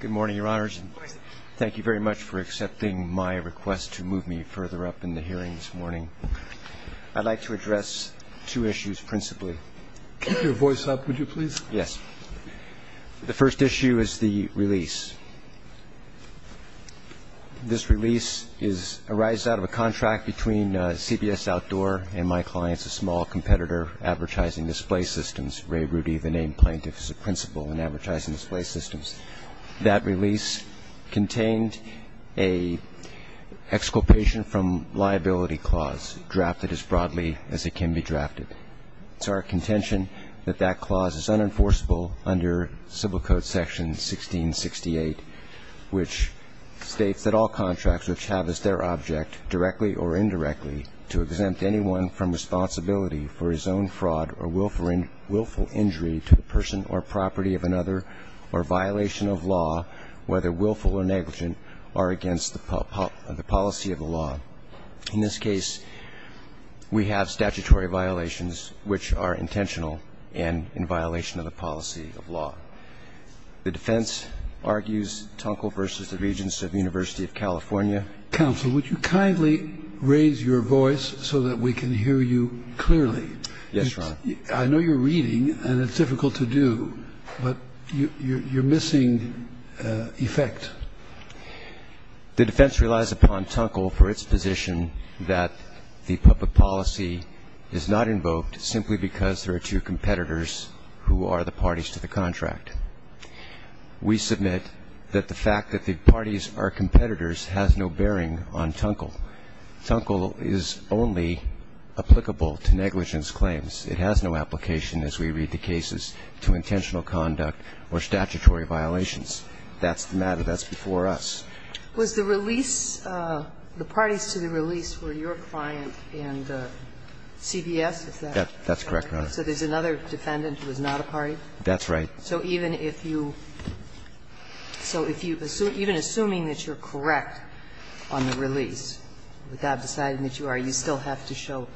Good morning, Your Honors, and thank you very much for accepting my request to move me further up in the hearing this morning. I'd like to address two issues principally. Keep your voice up, would you please? Yes. The first issue is the release. This release arises out of a contract between CBS Outdoor and my clients, a small competitor, Advertising Display Systems, Ray Rudy, the That release contained an exculpation from liability clause drafted as broadly as it can be drafted. It's our contention that that clause is unenforceable under Civil Code Section 1668, which states that all contracts which have as their object, directly or indirectly, to exempt anyone from responsibility for his own fraud or willful injury to the person or property of another, or violation of law, whether willful or negligent, are against the policy of the law. In this case, we have statutory violations which are intentional and in violation of the policy of law. The defense argues Tunkel v. The Regents of University of California. Counsel, would you kindly raise your voice so that we can hear you clearly? Yes, Your Honor. I know you're reading, and it's difficult to do, but you're missing effect. The defense relies upon Tunkel for its position that the public policy is not invoked simply because there are two competitors who are the parties to the contract. We submit that the fact that the parties are competitors has no bearing on Tunkel. Tunkel is only applicable to negligence claims. It has no application, as we read the cases, to intentional conduct or statutory violations. That's the matter. That's before us. Was the release the parties to the release were your client and CBS, is that right? That's correct, Your Honor. So there's another defendant who is not a party? That's right. So even if you so if you even assuming that you're correct on the release, without deciding that you are, you still have to show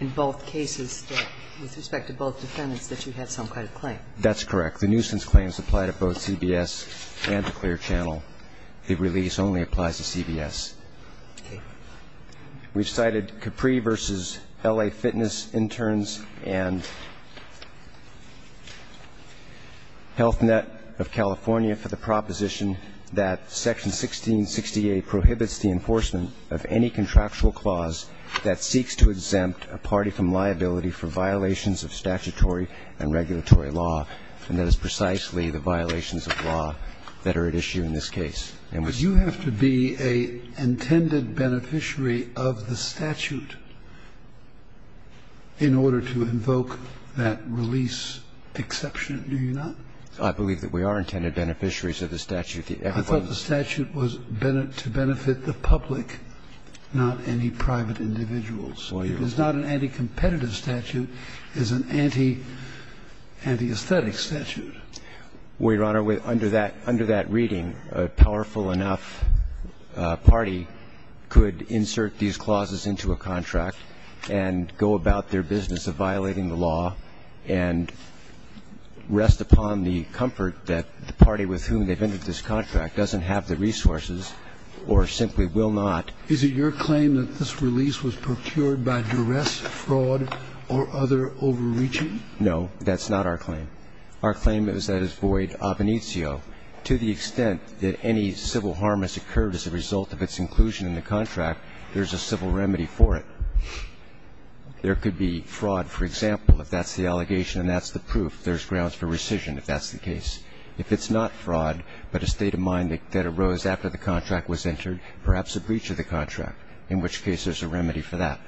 in both cases that with respect to both defendants that you had some kind of claim. That's correct. The nuisance claims apply to both CBS and to Clear Channel. The release only applies to CBS. We've cited Capri v. L.A. Fitness Interns and Health Net of California for the proposition that Section 1668 prohibits the enforcement of any contractual clause that seeks to exempt a party from liability for violations of statutory and regulatory law, and that is precisely the violations of law that are at issue in this case. And we see that. But you have to be an intended beneficiary of the statute in order to invoke that release exception, do you not? I believe that we are intended beneficiaries of the statute. I thought the statute was to benefit the public, not any private individuals. It is not an anti-competitive statute. It is an anti-aesthetic statute. Well, Your Honor, under that reading, a powerful enough party could insert these clauses into a contract and go about their business of violating the law and rest upon the comfort that the party with whom they've entered this contract doesn't have the resources or simply will not. Is it your claim that this release was procured by duress, fraud, or other overreaching? No, that's not our claim. Our claim is that it's void of initio. To the extent that any civil harm has occurred as a result of its inclusion in the contract, there's a civil remedy for it. There could be fraud, for example, if that's the allegation and that's the proof. There's grounds for rescission if that's the case. If it's not fraud, but a state of mind that arose after the contract was entered, perhaps a breach of the contract, in which case there's a remedy for that.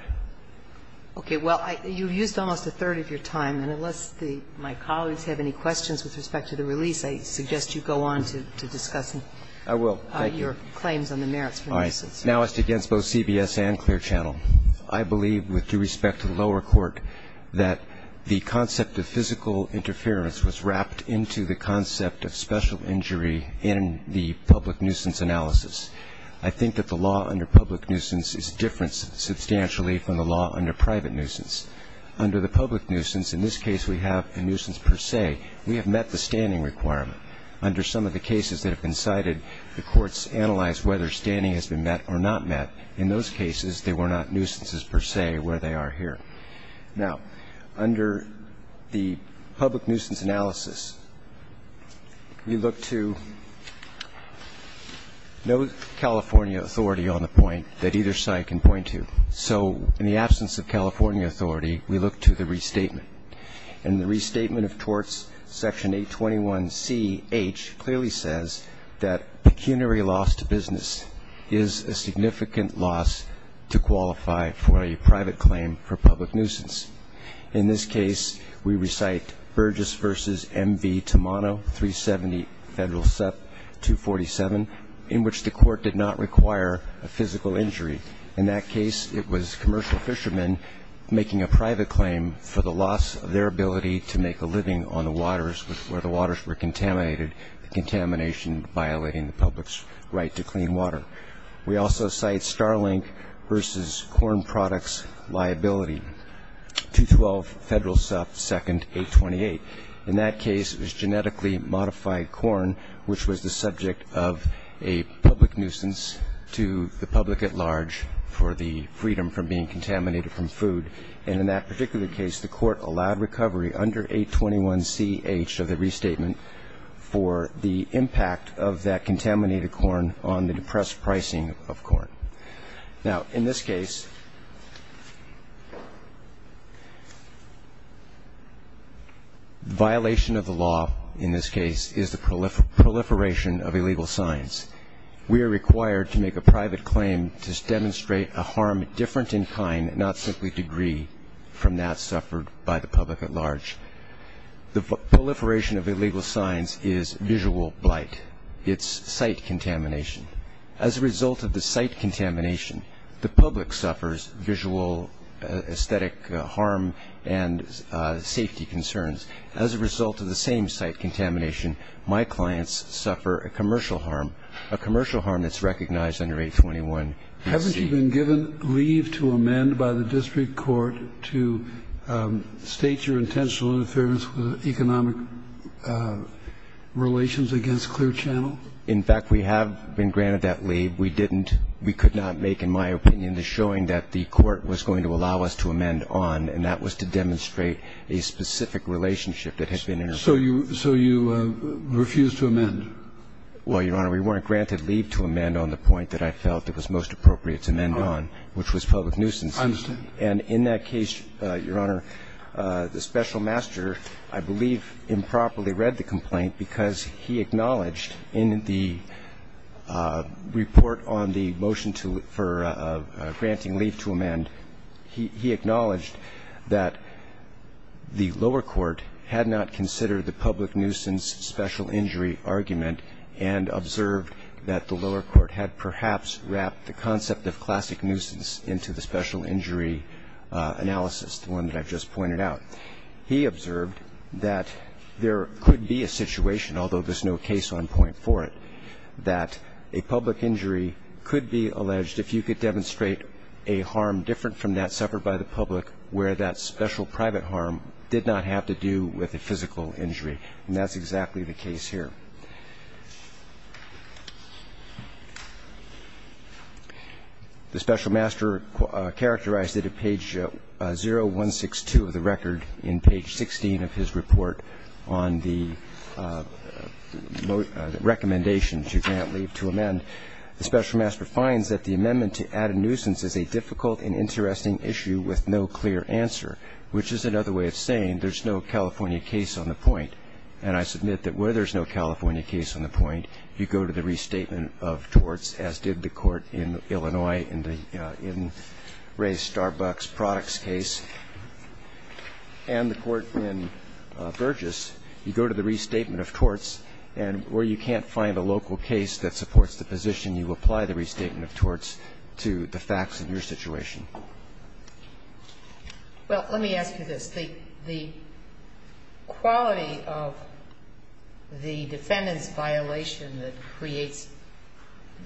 Okay. Well, you've used almost a third of your time, and unless my colleagues have any questions with respect to the release, I suggest you go on to discuss your claims on the merits for the releases. I will. Thank you. All right. Now as to against both CBS and Clear Channel, I believe with due respect to the lower court, that the concept of physical interference was wrapped into the concept of special injury in the public nuisance analysis. I think that the law under public nuisance is different substantially from the law under private nuisance. Under the public nuisance, in this case we have a nuisance per se. We have met the standing requirement. Under some of the cases that have been cited, the courts analyzed whether standing has been met or not met. In those cases, they were not nuisances per se where they are here. Now, under the public nuisance analysis, we look to no California authority on the point that either side can point to. So in the absence of California authority, we look to the restatement. And the restatement of torts section 821C-H clearly says that pecuniary loss to business is a significant loss to qualify for a private claim for public nuisance. In this case, we recite Burgess v. MV Tamano, 370 Federal SEP 247, in which the court did not require a physical injury. In that case, it was commercial fishermen making a private claim for the loss of their ability to make a living on the waters where the waters were We also cite Starlink v. Corn Products Liability, 212 Federal SEP 2nd 828. In that case, it was genetically modified corn, which was the subject of a public nuisance to the public at large for the freedom from being contaminated from food. And in that particular case, the court allowed recovery under 821C-H of the restatement for the impact of that contaminated corn on the depressed pricing of corn. Now, in this case, violation of the law in this case is the proliferation of illegal signs. We are required to make a private claim to demonstrate a harm different in kind, not simply degree, from that suffered by the public at large. The proliferation of illegal signs is visual blight. It's sight contamination. As a result of the sight contamination, the public suffers visual, aesthetic harm and safety concerns. As a result of the same sight contamination, my clients suffer a commercial harm, a commercial harm that's recognized under 821-C. Haven't you been given leave to amend by the district court to state your intentional interference with economic relations against Clear Channel? In fact, we have been granted that leave. We didn't. We could not make, in my opinion, the showing that the court was going to allow us to amend on, and that was to demonstrate a specific relationship that had been intervened. So you refused to amend? Well, Your Honor, we weren't granted leave to amend on the point that I felt it was most appropriate to amend on, which was public nuisance. I understand. And in that case, Your Honor, the special master, I believe, improperly read the complaint because he acknowledged in the report on the motion for granting leave to amend, he acknowledged that the lower court had not considered the public nuisance special injury argument and observed that the lower court had perhaps wrapped the concept of classic nuisance into the special injury analysis, the one that I've just pointed out. He observed that there could be a situation, although there's no case on point for it, that a public injury could be alleged if you could demonstrate a harm different from that suffered by the public where that special private harm did not have to do with a physical injury, and that's exactly the case here. The special master characterized it at page 0162 of the record in page 16 of his report on the recommendations you grant leave to amend. The special master finds that the amendment to add a nuisance is a difficult and interesting issue with no clear answer, which is another way of saying there's no California case on the point. And I submit that where there's no California case on the point, you go to the restatement of torts, as did the court in Illinois in the Ray Starbucks products case, and the court in Burgess. You go to the restatement of torts, and where you can't find a local case that supports the position, you apply the restatement of torts to the facts of your situation. Well, let me ask you this. The quality of the defendant's violation that creates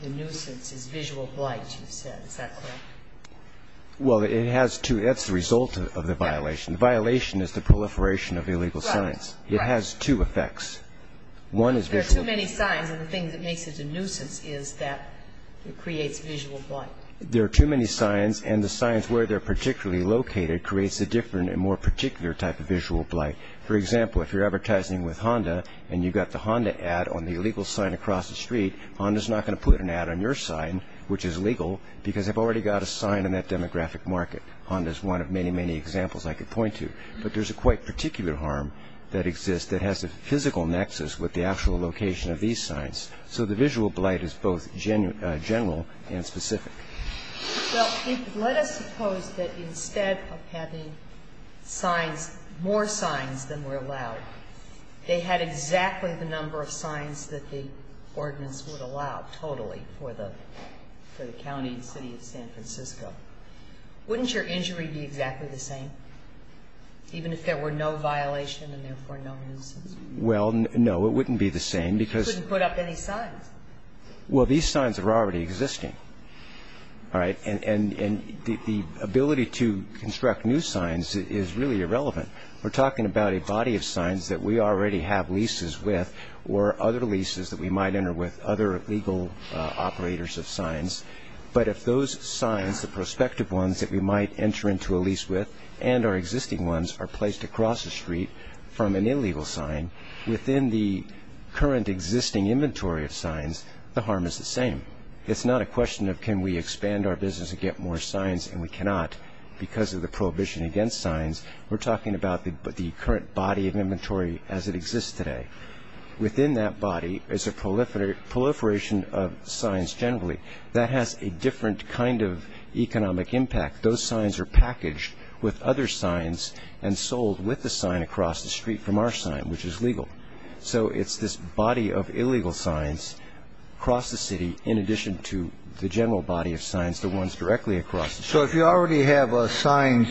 the nuisance is visual blight, you said. Is that correct? Well, it has two. That's the result of the violation. Violation is the proliferation of illegal signs. It has two effects. One is visual blight. There are too many signs, and the thing that makes it a nuisance is that it creates visual blight. There are too many signs, and the signs where they're particularly located creates a different and more particular type of visual blight. For example, if you're advertising with Honda, and you've got the Honda ad on the illegal sign across the street, Honda's not going to put an ad on your sign, which is legal, because they've already got a sign in that demographic market. Honda's one of many, many examples I could point to. But there's a quite particular harm that exists that has a physical nexus with the actual location of these signs. So the visual blight is both general and specific. Well, let us suppose that instead of having signs, more signs than were allowed, they had exactly the number of signs that the ordinance would allow totally for the county and city of San Francisco. Wouldn't your injury be exactly the same, even if there were no violation and therefore no nuisance? Well, no. It wouldn't be the same, because You wouldn't put up any signs. Well, these signs are already existing, all right? And the ability to construct new signs is really irrelevant. We're talking about a body of signs that we already have leases with or other leases that we might enter with, other legal operators of signs. But if those signs, the prospective ones that we might enter into a lease with and our existing ones, are placed across the street from an illegal sign, within the current existing inventory of signs, the harm is the same. It's not a question of can we expand our business and get more signs, and we cannot. Because of the prohibition against signs, we're talking about the current body of inventory as it exists today. Within that body is a proliferation of signs generally. That has a different kind of economic impact. Those signs are packaged with other signs and sold with the sign across the street from our sign, which is legal. So it's this body of illegal signs across the city in addition to the general body of signs, the ones directly across the street. So if you already have signs,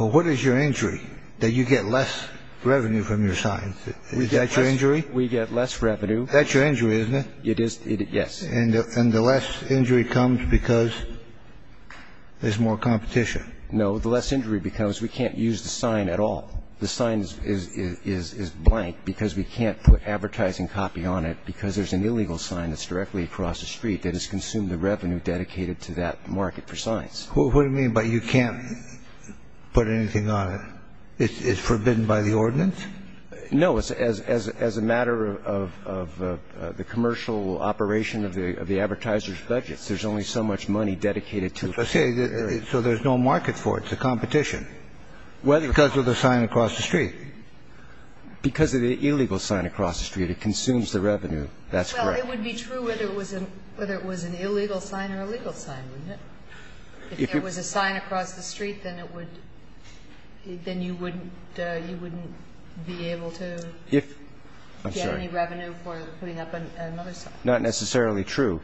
what is your injury, that you get less revenue from your signs? Is that your injury? We get less revenue. That's your injury, isn't it? It is. Yes. And the less injury comes because there's more competition. No. The less injury because we can't use the sign at all. The sign is blank because we can't put advertising copy on it because there's an illegal sign that's directly across the street that has consumed the revenue dedicated to that market for signs. What do you mean by you can't put anything on it? It's forbidden by the ordinance? No. As a matter of the commercial operation of the advertiser's budget, there's only so much money dedicated to it. Okay. So there's no market for it. It's a competition. Because of the sign across the street. Because of the illegal sign across the street. It consumes the revenue. That's correct. Well, it would be true whether it was an illegal sign or a legal sign, wouldn't it? If there was a sign across the street, then it would, then you wouldn't, you wouldn't be able to get any revenue for putting up another sign. Not necessarily true.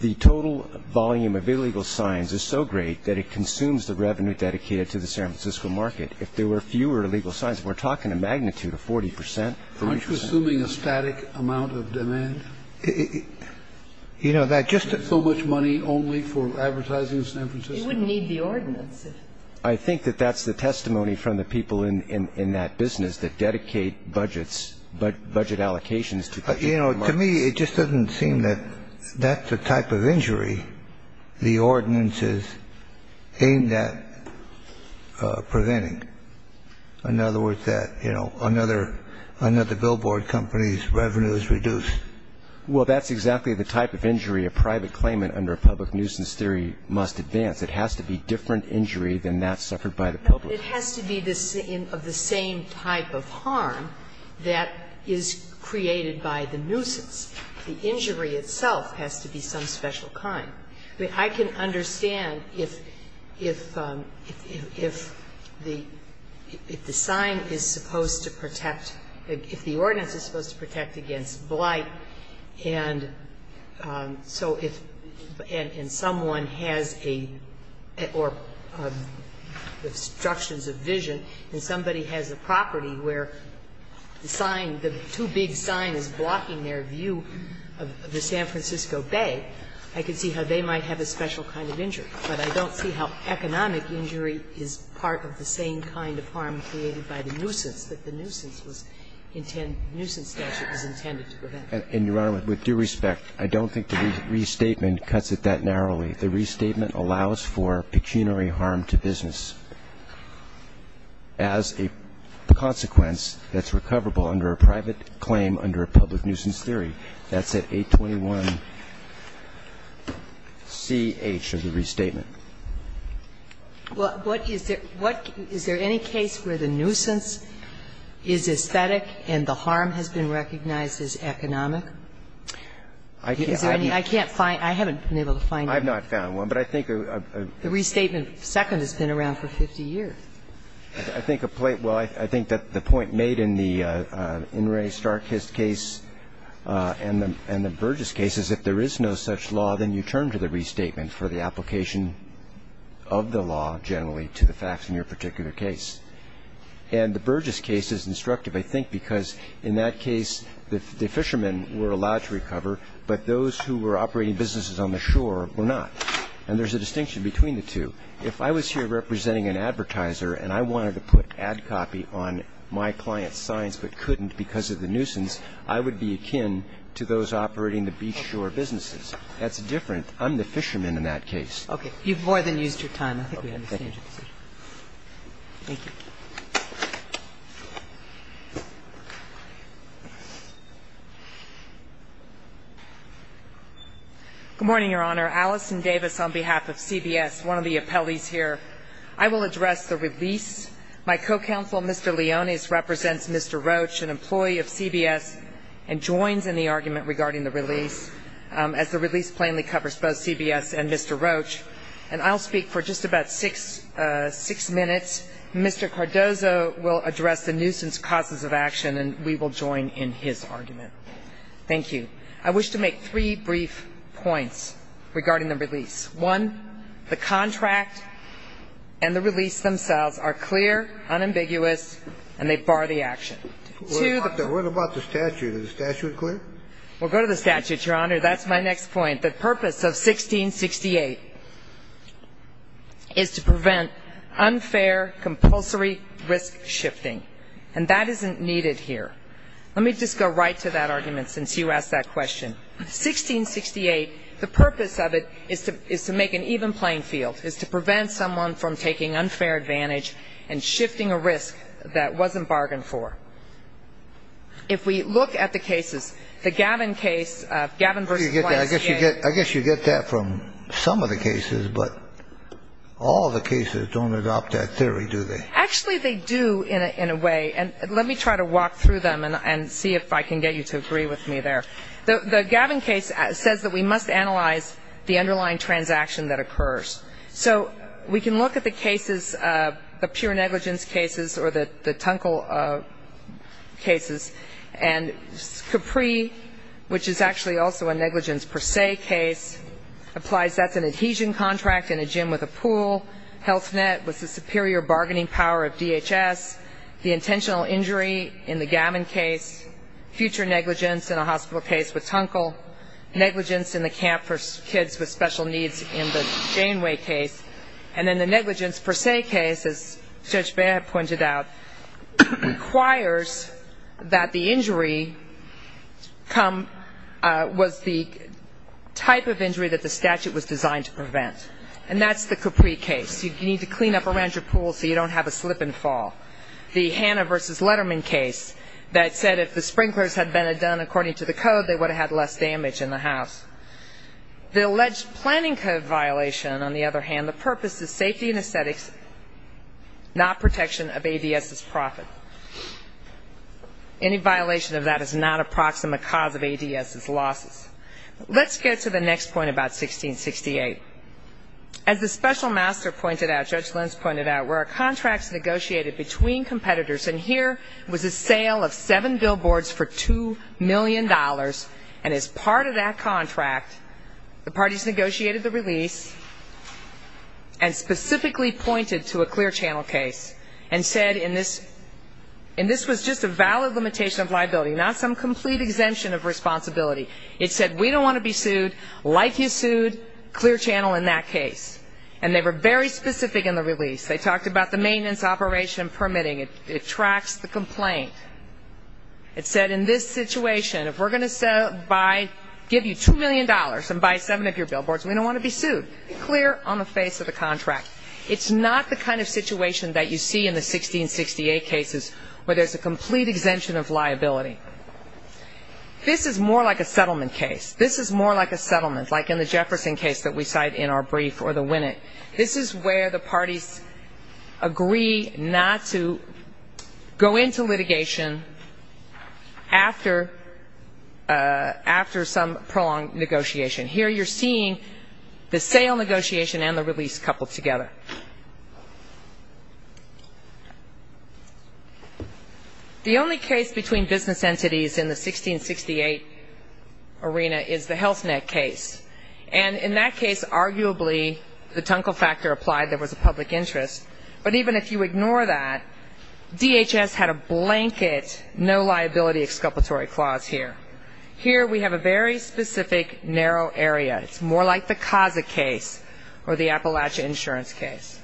The total volume of illegal signs is so great that it consumes the revenue dedicated to the San Francisco market. If there were fewer illegal signs, we're talking a magnitude of 40 percent. Aren't you assuming a static amount of demand? You know, that just. So much money only for advertising in San Francisco? You wouldn't need the ordinance. I think that that's the testimony from the people in that business that dedicate budgets, budget allocations to the San Francisco market. To me, it just doesn't seem that that's the type of injury the ordinance is aimed at preventing. In other words, that, you know, another billboard company's revenue is reduced. Well, that's exactly the type of injury a private claimant under a public nuisance theory must advance. It has to be different injury than that suffered by the public. It has to be of the same type of harm that is created by the nuisance. The injury itself has to be some special kind. I can understand if the sign is supposed to protect, if the ordinance is supposed to protect against blight, and so if someone has a, or obstructions of vision, and somebody has a property where the sign, the too big sign is blocking their view of the San Francisco Bay, I can see how they might have a special kind of injury. But I don't see how economic injury is part of the same kind of harm created by the nuisance that the nuisance was intended, nuisance statute was intended to prevent. And, Your Honor, with due respect, I don't think the restatement cuts it that narrowly. The restatement allows for pecuniary harm to business as a consequence that's not part of the nuisance theory, that's at 821-CH of the restatement. Well, what is it, what, is there any case where the nuisance is aesthetic and the harm has been recognized as economic? Is there any, I can't find, I haven't been able to find it. I've not found one, but I think a. The restatement second has been around for 50 years. I think a plate, well, I think that the point made in the In re Starkest case and the Burgess case is if there is no such law, then you turn to the restatement for the application of the law generally to the facts in your particular case. And the Burgess case is instructive, I think, because in that case, the fishermen were allowed to recover, but those who were operating businesses on the shore were not. And there's a distinction between the two. If I was here representing an advertiser and I wanted to put ad copy on my client's signs but couldn't because of the nuisance, I would be akin to those operating the beach shore businesses. That's different. I'm the fisherman in that case. Okay, you've more than used your time. I think we have to change the position. Thank you. Good morning, Your Honor. Alison Davis on behalf of CBS, one of the appellees here. I will address the release. My co-counsel, Mr. Leonis, represents Mr. Roach, an employee of CBS, and joins in the argument regarding the release as the release plainly covers both CBS and Mr. Roach, and I'll speak for just about six minutes. Mr. Cardozo will address the nuisance causes of action, and we will join in his argument. Thank you. I wish to make three brief points regarding the release. One, the contract and the release themselves are clear, unambiguous, and they bar the action. Two- What about the statute? Is the statute clear? We'll go to the statute, Your Honor. That's my next point. The purpose of 1668 is to prevent unfair, compulsory risk shifting. And that isn't needed here. Let me just go right to that argument, since you asked that question. 1668, the purpose of it is to make an even playing field, is to prevent someone from taking unfair advantage and shifting a risk that wasn't bargained for. If we look at the cases, the Gavin case, Gavin v. Blank's case- I guess you get that from some of the cases, but all the cases don't adopt that theory, do they? Actually, they do, in a way. And let me try to walk through them and see if I can get you to agree with me there. The Gavin case says that we must analyze the underlying transaction that occurs. So we can look at the cases, the pure negligence cases, or the Tunkel cases. And Capri, which is actually also a negligence per se case, applies that's an adhesion contract in a gym with a pool. Health Net was the superior bargaining power of DHS. The intentional injury in the Gavin case. Future negligence in a hospital case with Tunkel. Negligence in the camp for kids with special needs in the Janeway case. And then the negligence per se case, as Judge Baird pointed out, requires that the injury was the type of injury that the statute was designed to prevent. And that's the Capri case. You need to clean up around your pool so you don't have a slip and fall. The Hannah versus Letterman case that said if the sprinklers had been done according to the code, they would have had less damage in the house. The alleged planning code violation, on the other hand, the purpose is safety and aesthetics, not protection of ADS's profit. Any violation of that is not a proximate cause of ADS's losses. Let's get to the next point about 1668. As the special master pointed out, Judge Lenz pointed out, where a contract's negotiated between competitors. And here was a sale of seven billboards for $2 million. And as part of that contract, the parties negotiated the release and specifically pointed to a clear channel case. And said, and this was just a valid limitation of liability, not some complete exemption of responsibility. It said, we don't want to be sued, like you sued, clear channel in that case. And they were very specific in the release. They talked about the maintenance operation permitting. It tracks the complaint. It said, in this situation, if we're going to sell, buy, give you $2 million and buy seven of your billboards, we don't want to be sued. Clear on the face of the contract. It's not the kind of situation that you see in the 1668 cases, where there's a complete exemption of liability. This is more like a settlement case. This is more like a settlement, like in the Jefferson case that we cite in our brief, or the Winnett. This is where the parties agree not to go into litigation after some prolonged negotiation. Here you're seeing the sale negotiation and the release coupled together. The only case between business entities in the 1668 arena is the Health Net case. And in that case, arguably, the Tunkel Factor applied. There was a public interest. But even if you ignore that, DHS had a blanket, no liability exculpatory clause here. Here we have a very specific, narrow area. It's more like the CASA case or the Appalachian Insurance case.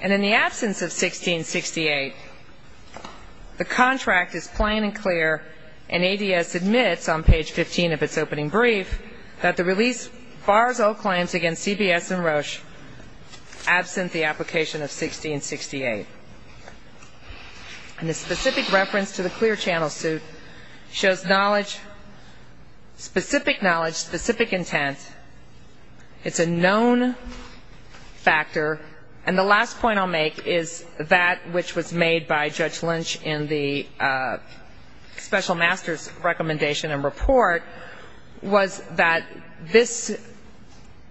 And in the absence of 1668, the contract is plain and clear. And ADS admits on page 15 of its opening brief that the release bars all claims against CBS and Roche absent the application of 1668. And the specific reference to the clear channel suit shows knowledge, specific knowledge, specific intent. It's a known factor. And the last point I'll make is that which was made by Judge Lynch in the special master's recommendation and report was that this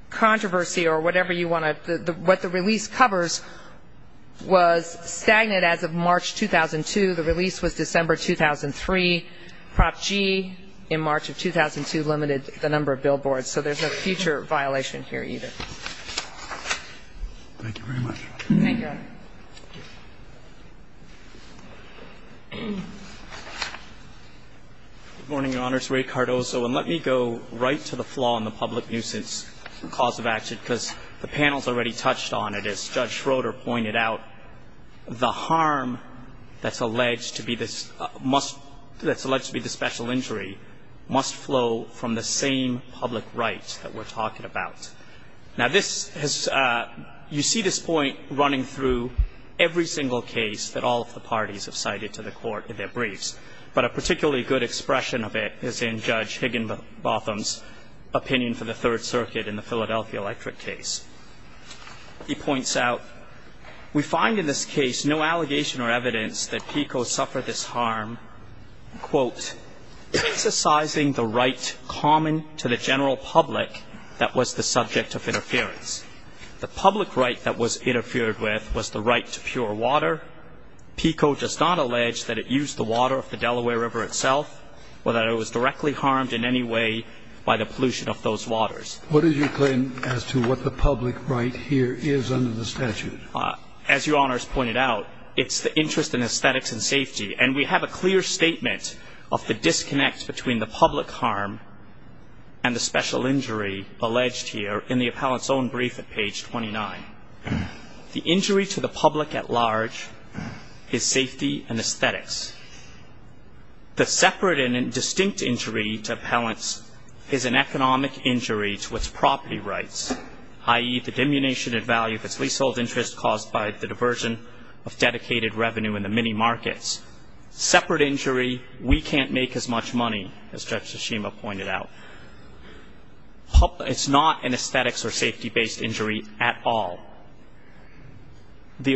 controversy or whatever you want to, what the release covers was stagnant as of March 2002. The release was December 2003. Prop G in March of 2002 limited the number of billboards. So there's no future violation here either. Thank you very much. Thank you. Good morning, Your Honors. Ray Cardoso. And let me go right to the flaw in the public nuisance cause of action. The panel's already touched on it. As Judge Schroeder pointed out, the harm that's alleged to be this, must, that's alleged to be the special injury, must flow from the same public rights that we're talking about. Now this has, you see this point running through every single case that all of the parties have cited to the court in their briefs. But a particularly good expression of it is in Judge Higginbotham's opinion for the Third Circuit in the Philadelphia Electric case. He points out, we find in this case no allegation or evidence that PICO suffered this harm, quote, emphasizing the right common to the general public that was the subject of interference. The public right that was interfered with was the right to pure water. PICO does not allege that it used the water of the Delaware River itself or that it was directly harmed in any way by the pollution of those waters. What is your claim as to what the public right here is under the statute? As Your Honor's pointed out, it's the interest in aesthetics and safety. And we have a clear statement of the disconnect between the public harm and the special injury alleged here in the appellant's own brief at page 29. The injury to the public at large is safety and aesthetics. The separate and distinct injury to appellants is an economic injury to its property rights, i.e., the diminution in value of its leasehold interest caused by the diversion of dedicated revenue in the mini markets. Separate injury, we can't make as much money, as Judge Tsushima pointed out. It's not an aesthetics or safety-based injury at all. The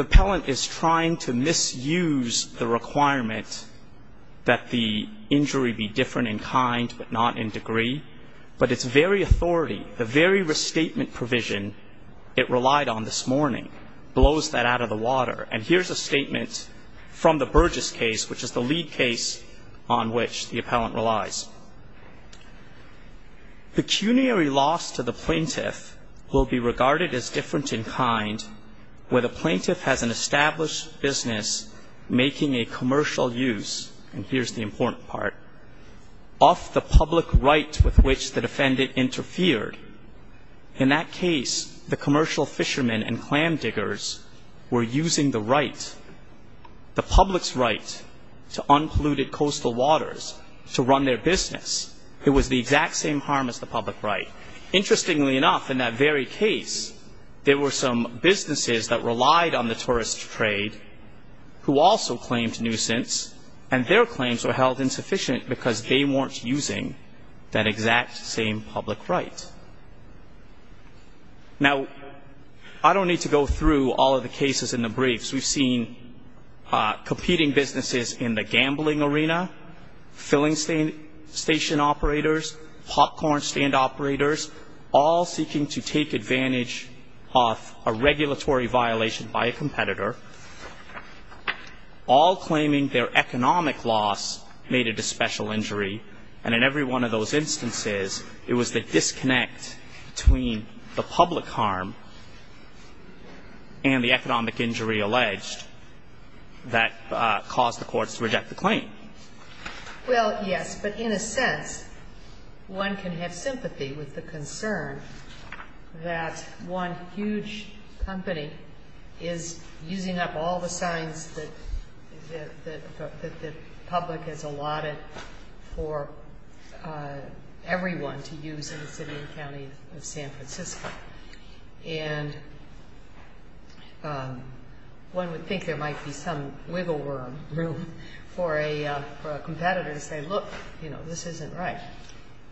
appellant is trying to misuse the requirement that the injury be different in kind but not in degree. But its very authority, the very restatement provision it relied on this morning, blows that out of the water. And here's a statement from the Burgess case, which is the lead case on which the appellant relies. Pecuniary loss to the plaintiff will be regarded as different in kind where the plaintiff has an established business making a commercial use, and here's the important part, of the public right with which the defendant interfered. In that case, the commercial fishermen and clam diggers were using the right, the public's right, to unpolluted coastal waters to run their business, it was the exact same harm as the public right. Interestingly enough, in that very case, there were some businesses that relied on the tourist trade, who also claimed nuisance, and their claims were held insufficient because they weren't using that exact same public right. Now, I don't need to go through all of the cases in the briefs. We've seen competing businesses in the gambling arena, filling station operators, popcorn stand operators, all seeking to take advantage of a regulatory violation by a competitor, all claiming their economic loss made it a special injury. And in every one of those instances, it was the disconnect between the public harm and the economic injury alleged that caused the courts to reject the claim. Well, yes, but in a sense, one can have sympathy with the concern that one huge company is using up all the signs that the public has allotted for everyone to use in the city and county of San Francisco. And one would think there might be some wiggle room for a competitor to say, look, this isn't right.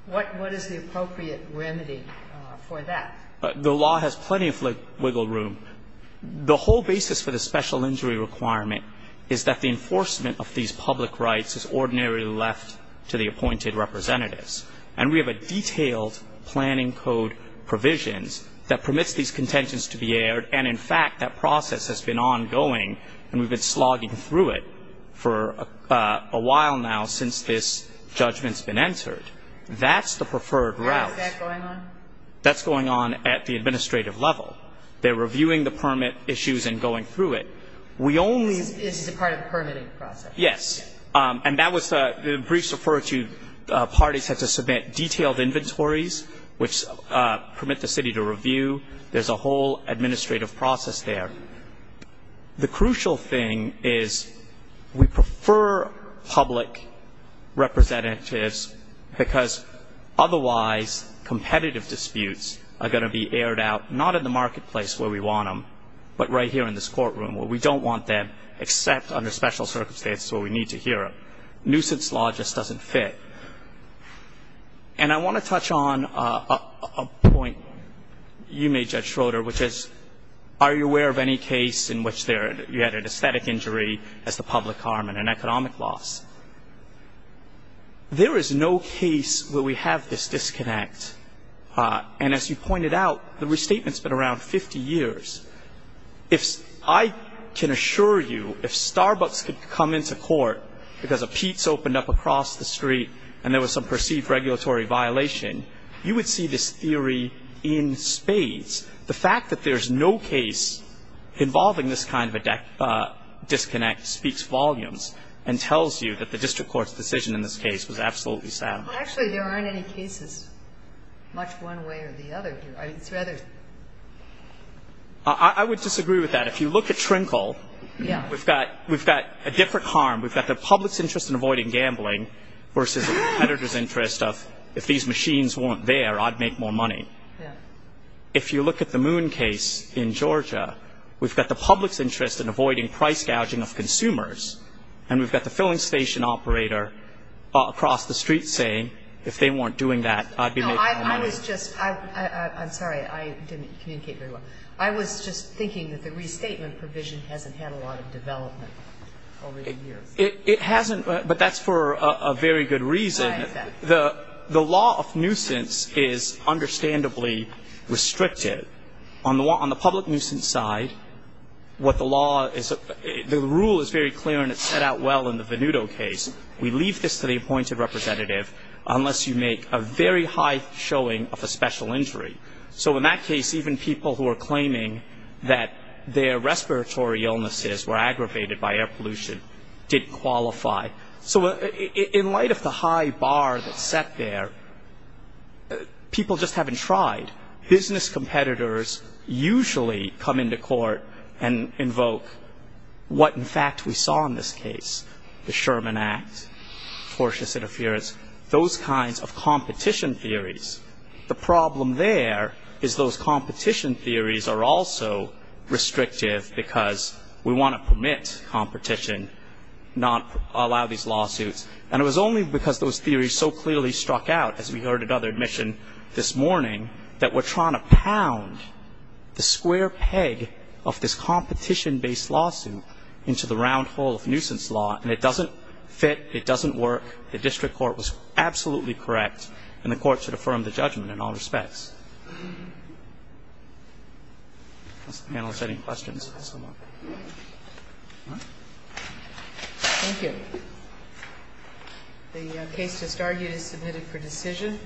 What is the appropriate remedy for that? The law has plenty of wiggle room. The whole basis for the special injury requirement is that the enforcement of these public rights is ordinarily left to the appointed representatives. And we have a detailed planning code provisions that permits these contentions to be aired, and in fact, that process has been ongoing, and we've been slogging through it for a while now since this judgment's been entered. That's the preferred route. How is that going on? That's going on at the administrative level. They're reviewing the permit issues and going through it. We only- This is a part of the permitting process. Yes, and the briefs referred to parties had to submit detailed inventories, which permit the city to review. There's a whole administrative process there. The crucial thing is we prefer public representatives because otherwise, competitive disputes are going to be aired out, not in the marketplace where we want them, but right here in this courtroom where we don't want them, except under special circumstances where we need to hear them. Nuisance law just doesn't fit. And I want to touch on a point you made, Judge Schroeder, which is, are you aware of any case in which you had an aesthetic injury as the public harm and an economic loss? There is no case where we have this disconnect, and as you pointed out, the restatement's been around 50 years. I can assure you if Starbucks could come into court because a Pete's opened up across the street and there was some perceived regulatory violation, you would see this theory in spades. The fact that there's no case involving this kind of a disconnect speaks volumes and tells you that the district court's decision in this case was absolutely sound. Actually, there aren't any cases much one way or the other here. I would disagree with that. If you look at Trinkle, we've got a different harm. We've got the public's interest in avoiding gambling versus the competitor's interest of, if these machines weren't there, I'd make more money. Yeah. If you look at the Moon case in Georgia, we've got the public's interest in avoiding price gouging of consumers, and we've got the filling station operator across the street saying, if they weren't doing that, I'd be making more money. No, I was just, I'm sorry, I didn't communicate very well. I was just thinking that the restatement provision hasn't had a lot of development over the years. It hasn't, but that's for a very good reason. I understand. The law of nuisance is understandably restricted. On the public nuisance side, what the law is, the rule is very clear and it's set out well in the Venuto case. We leave this to the appointed representative, unless you make a very high showing of a special injury. So in that case, even people who are claiming that their respiratory illnesses were aggravated by air pollution didn't qualify. So in light of the high bar that's set there, people just haven't tried. Business competitors usually come into court and invoke what, in fact, we saw in this case. The Sherman Act, tortious interference, those kinds of competition theories. The problem there is those competition theories are also restrictive because we want to permit competition, not allow these lawsuits. And it was only because those theories so clearly struck out, as we heard at other admission this morning, that we're trying to pound the square peg of this competition-based lawsuit into the round hole of nuisance law. And it doesn't fit, it doesn't work. The district court was absolutely correct, and the court should affirm the judgment in all respects. Does the panel have any questions? Thank you. The case just argued is submitted for decision.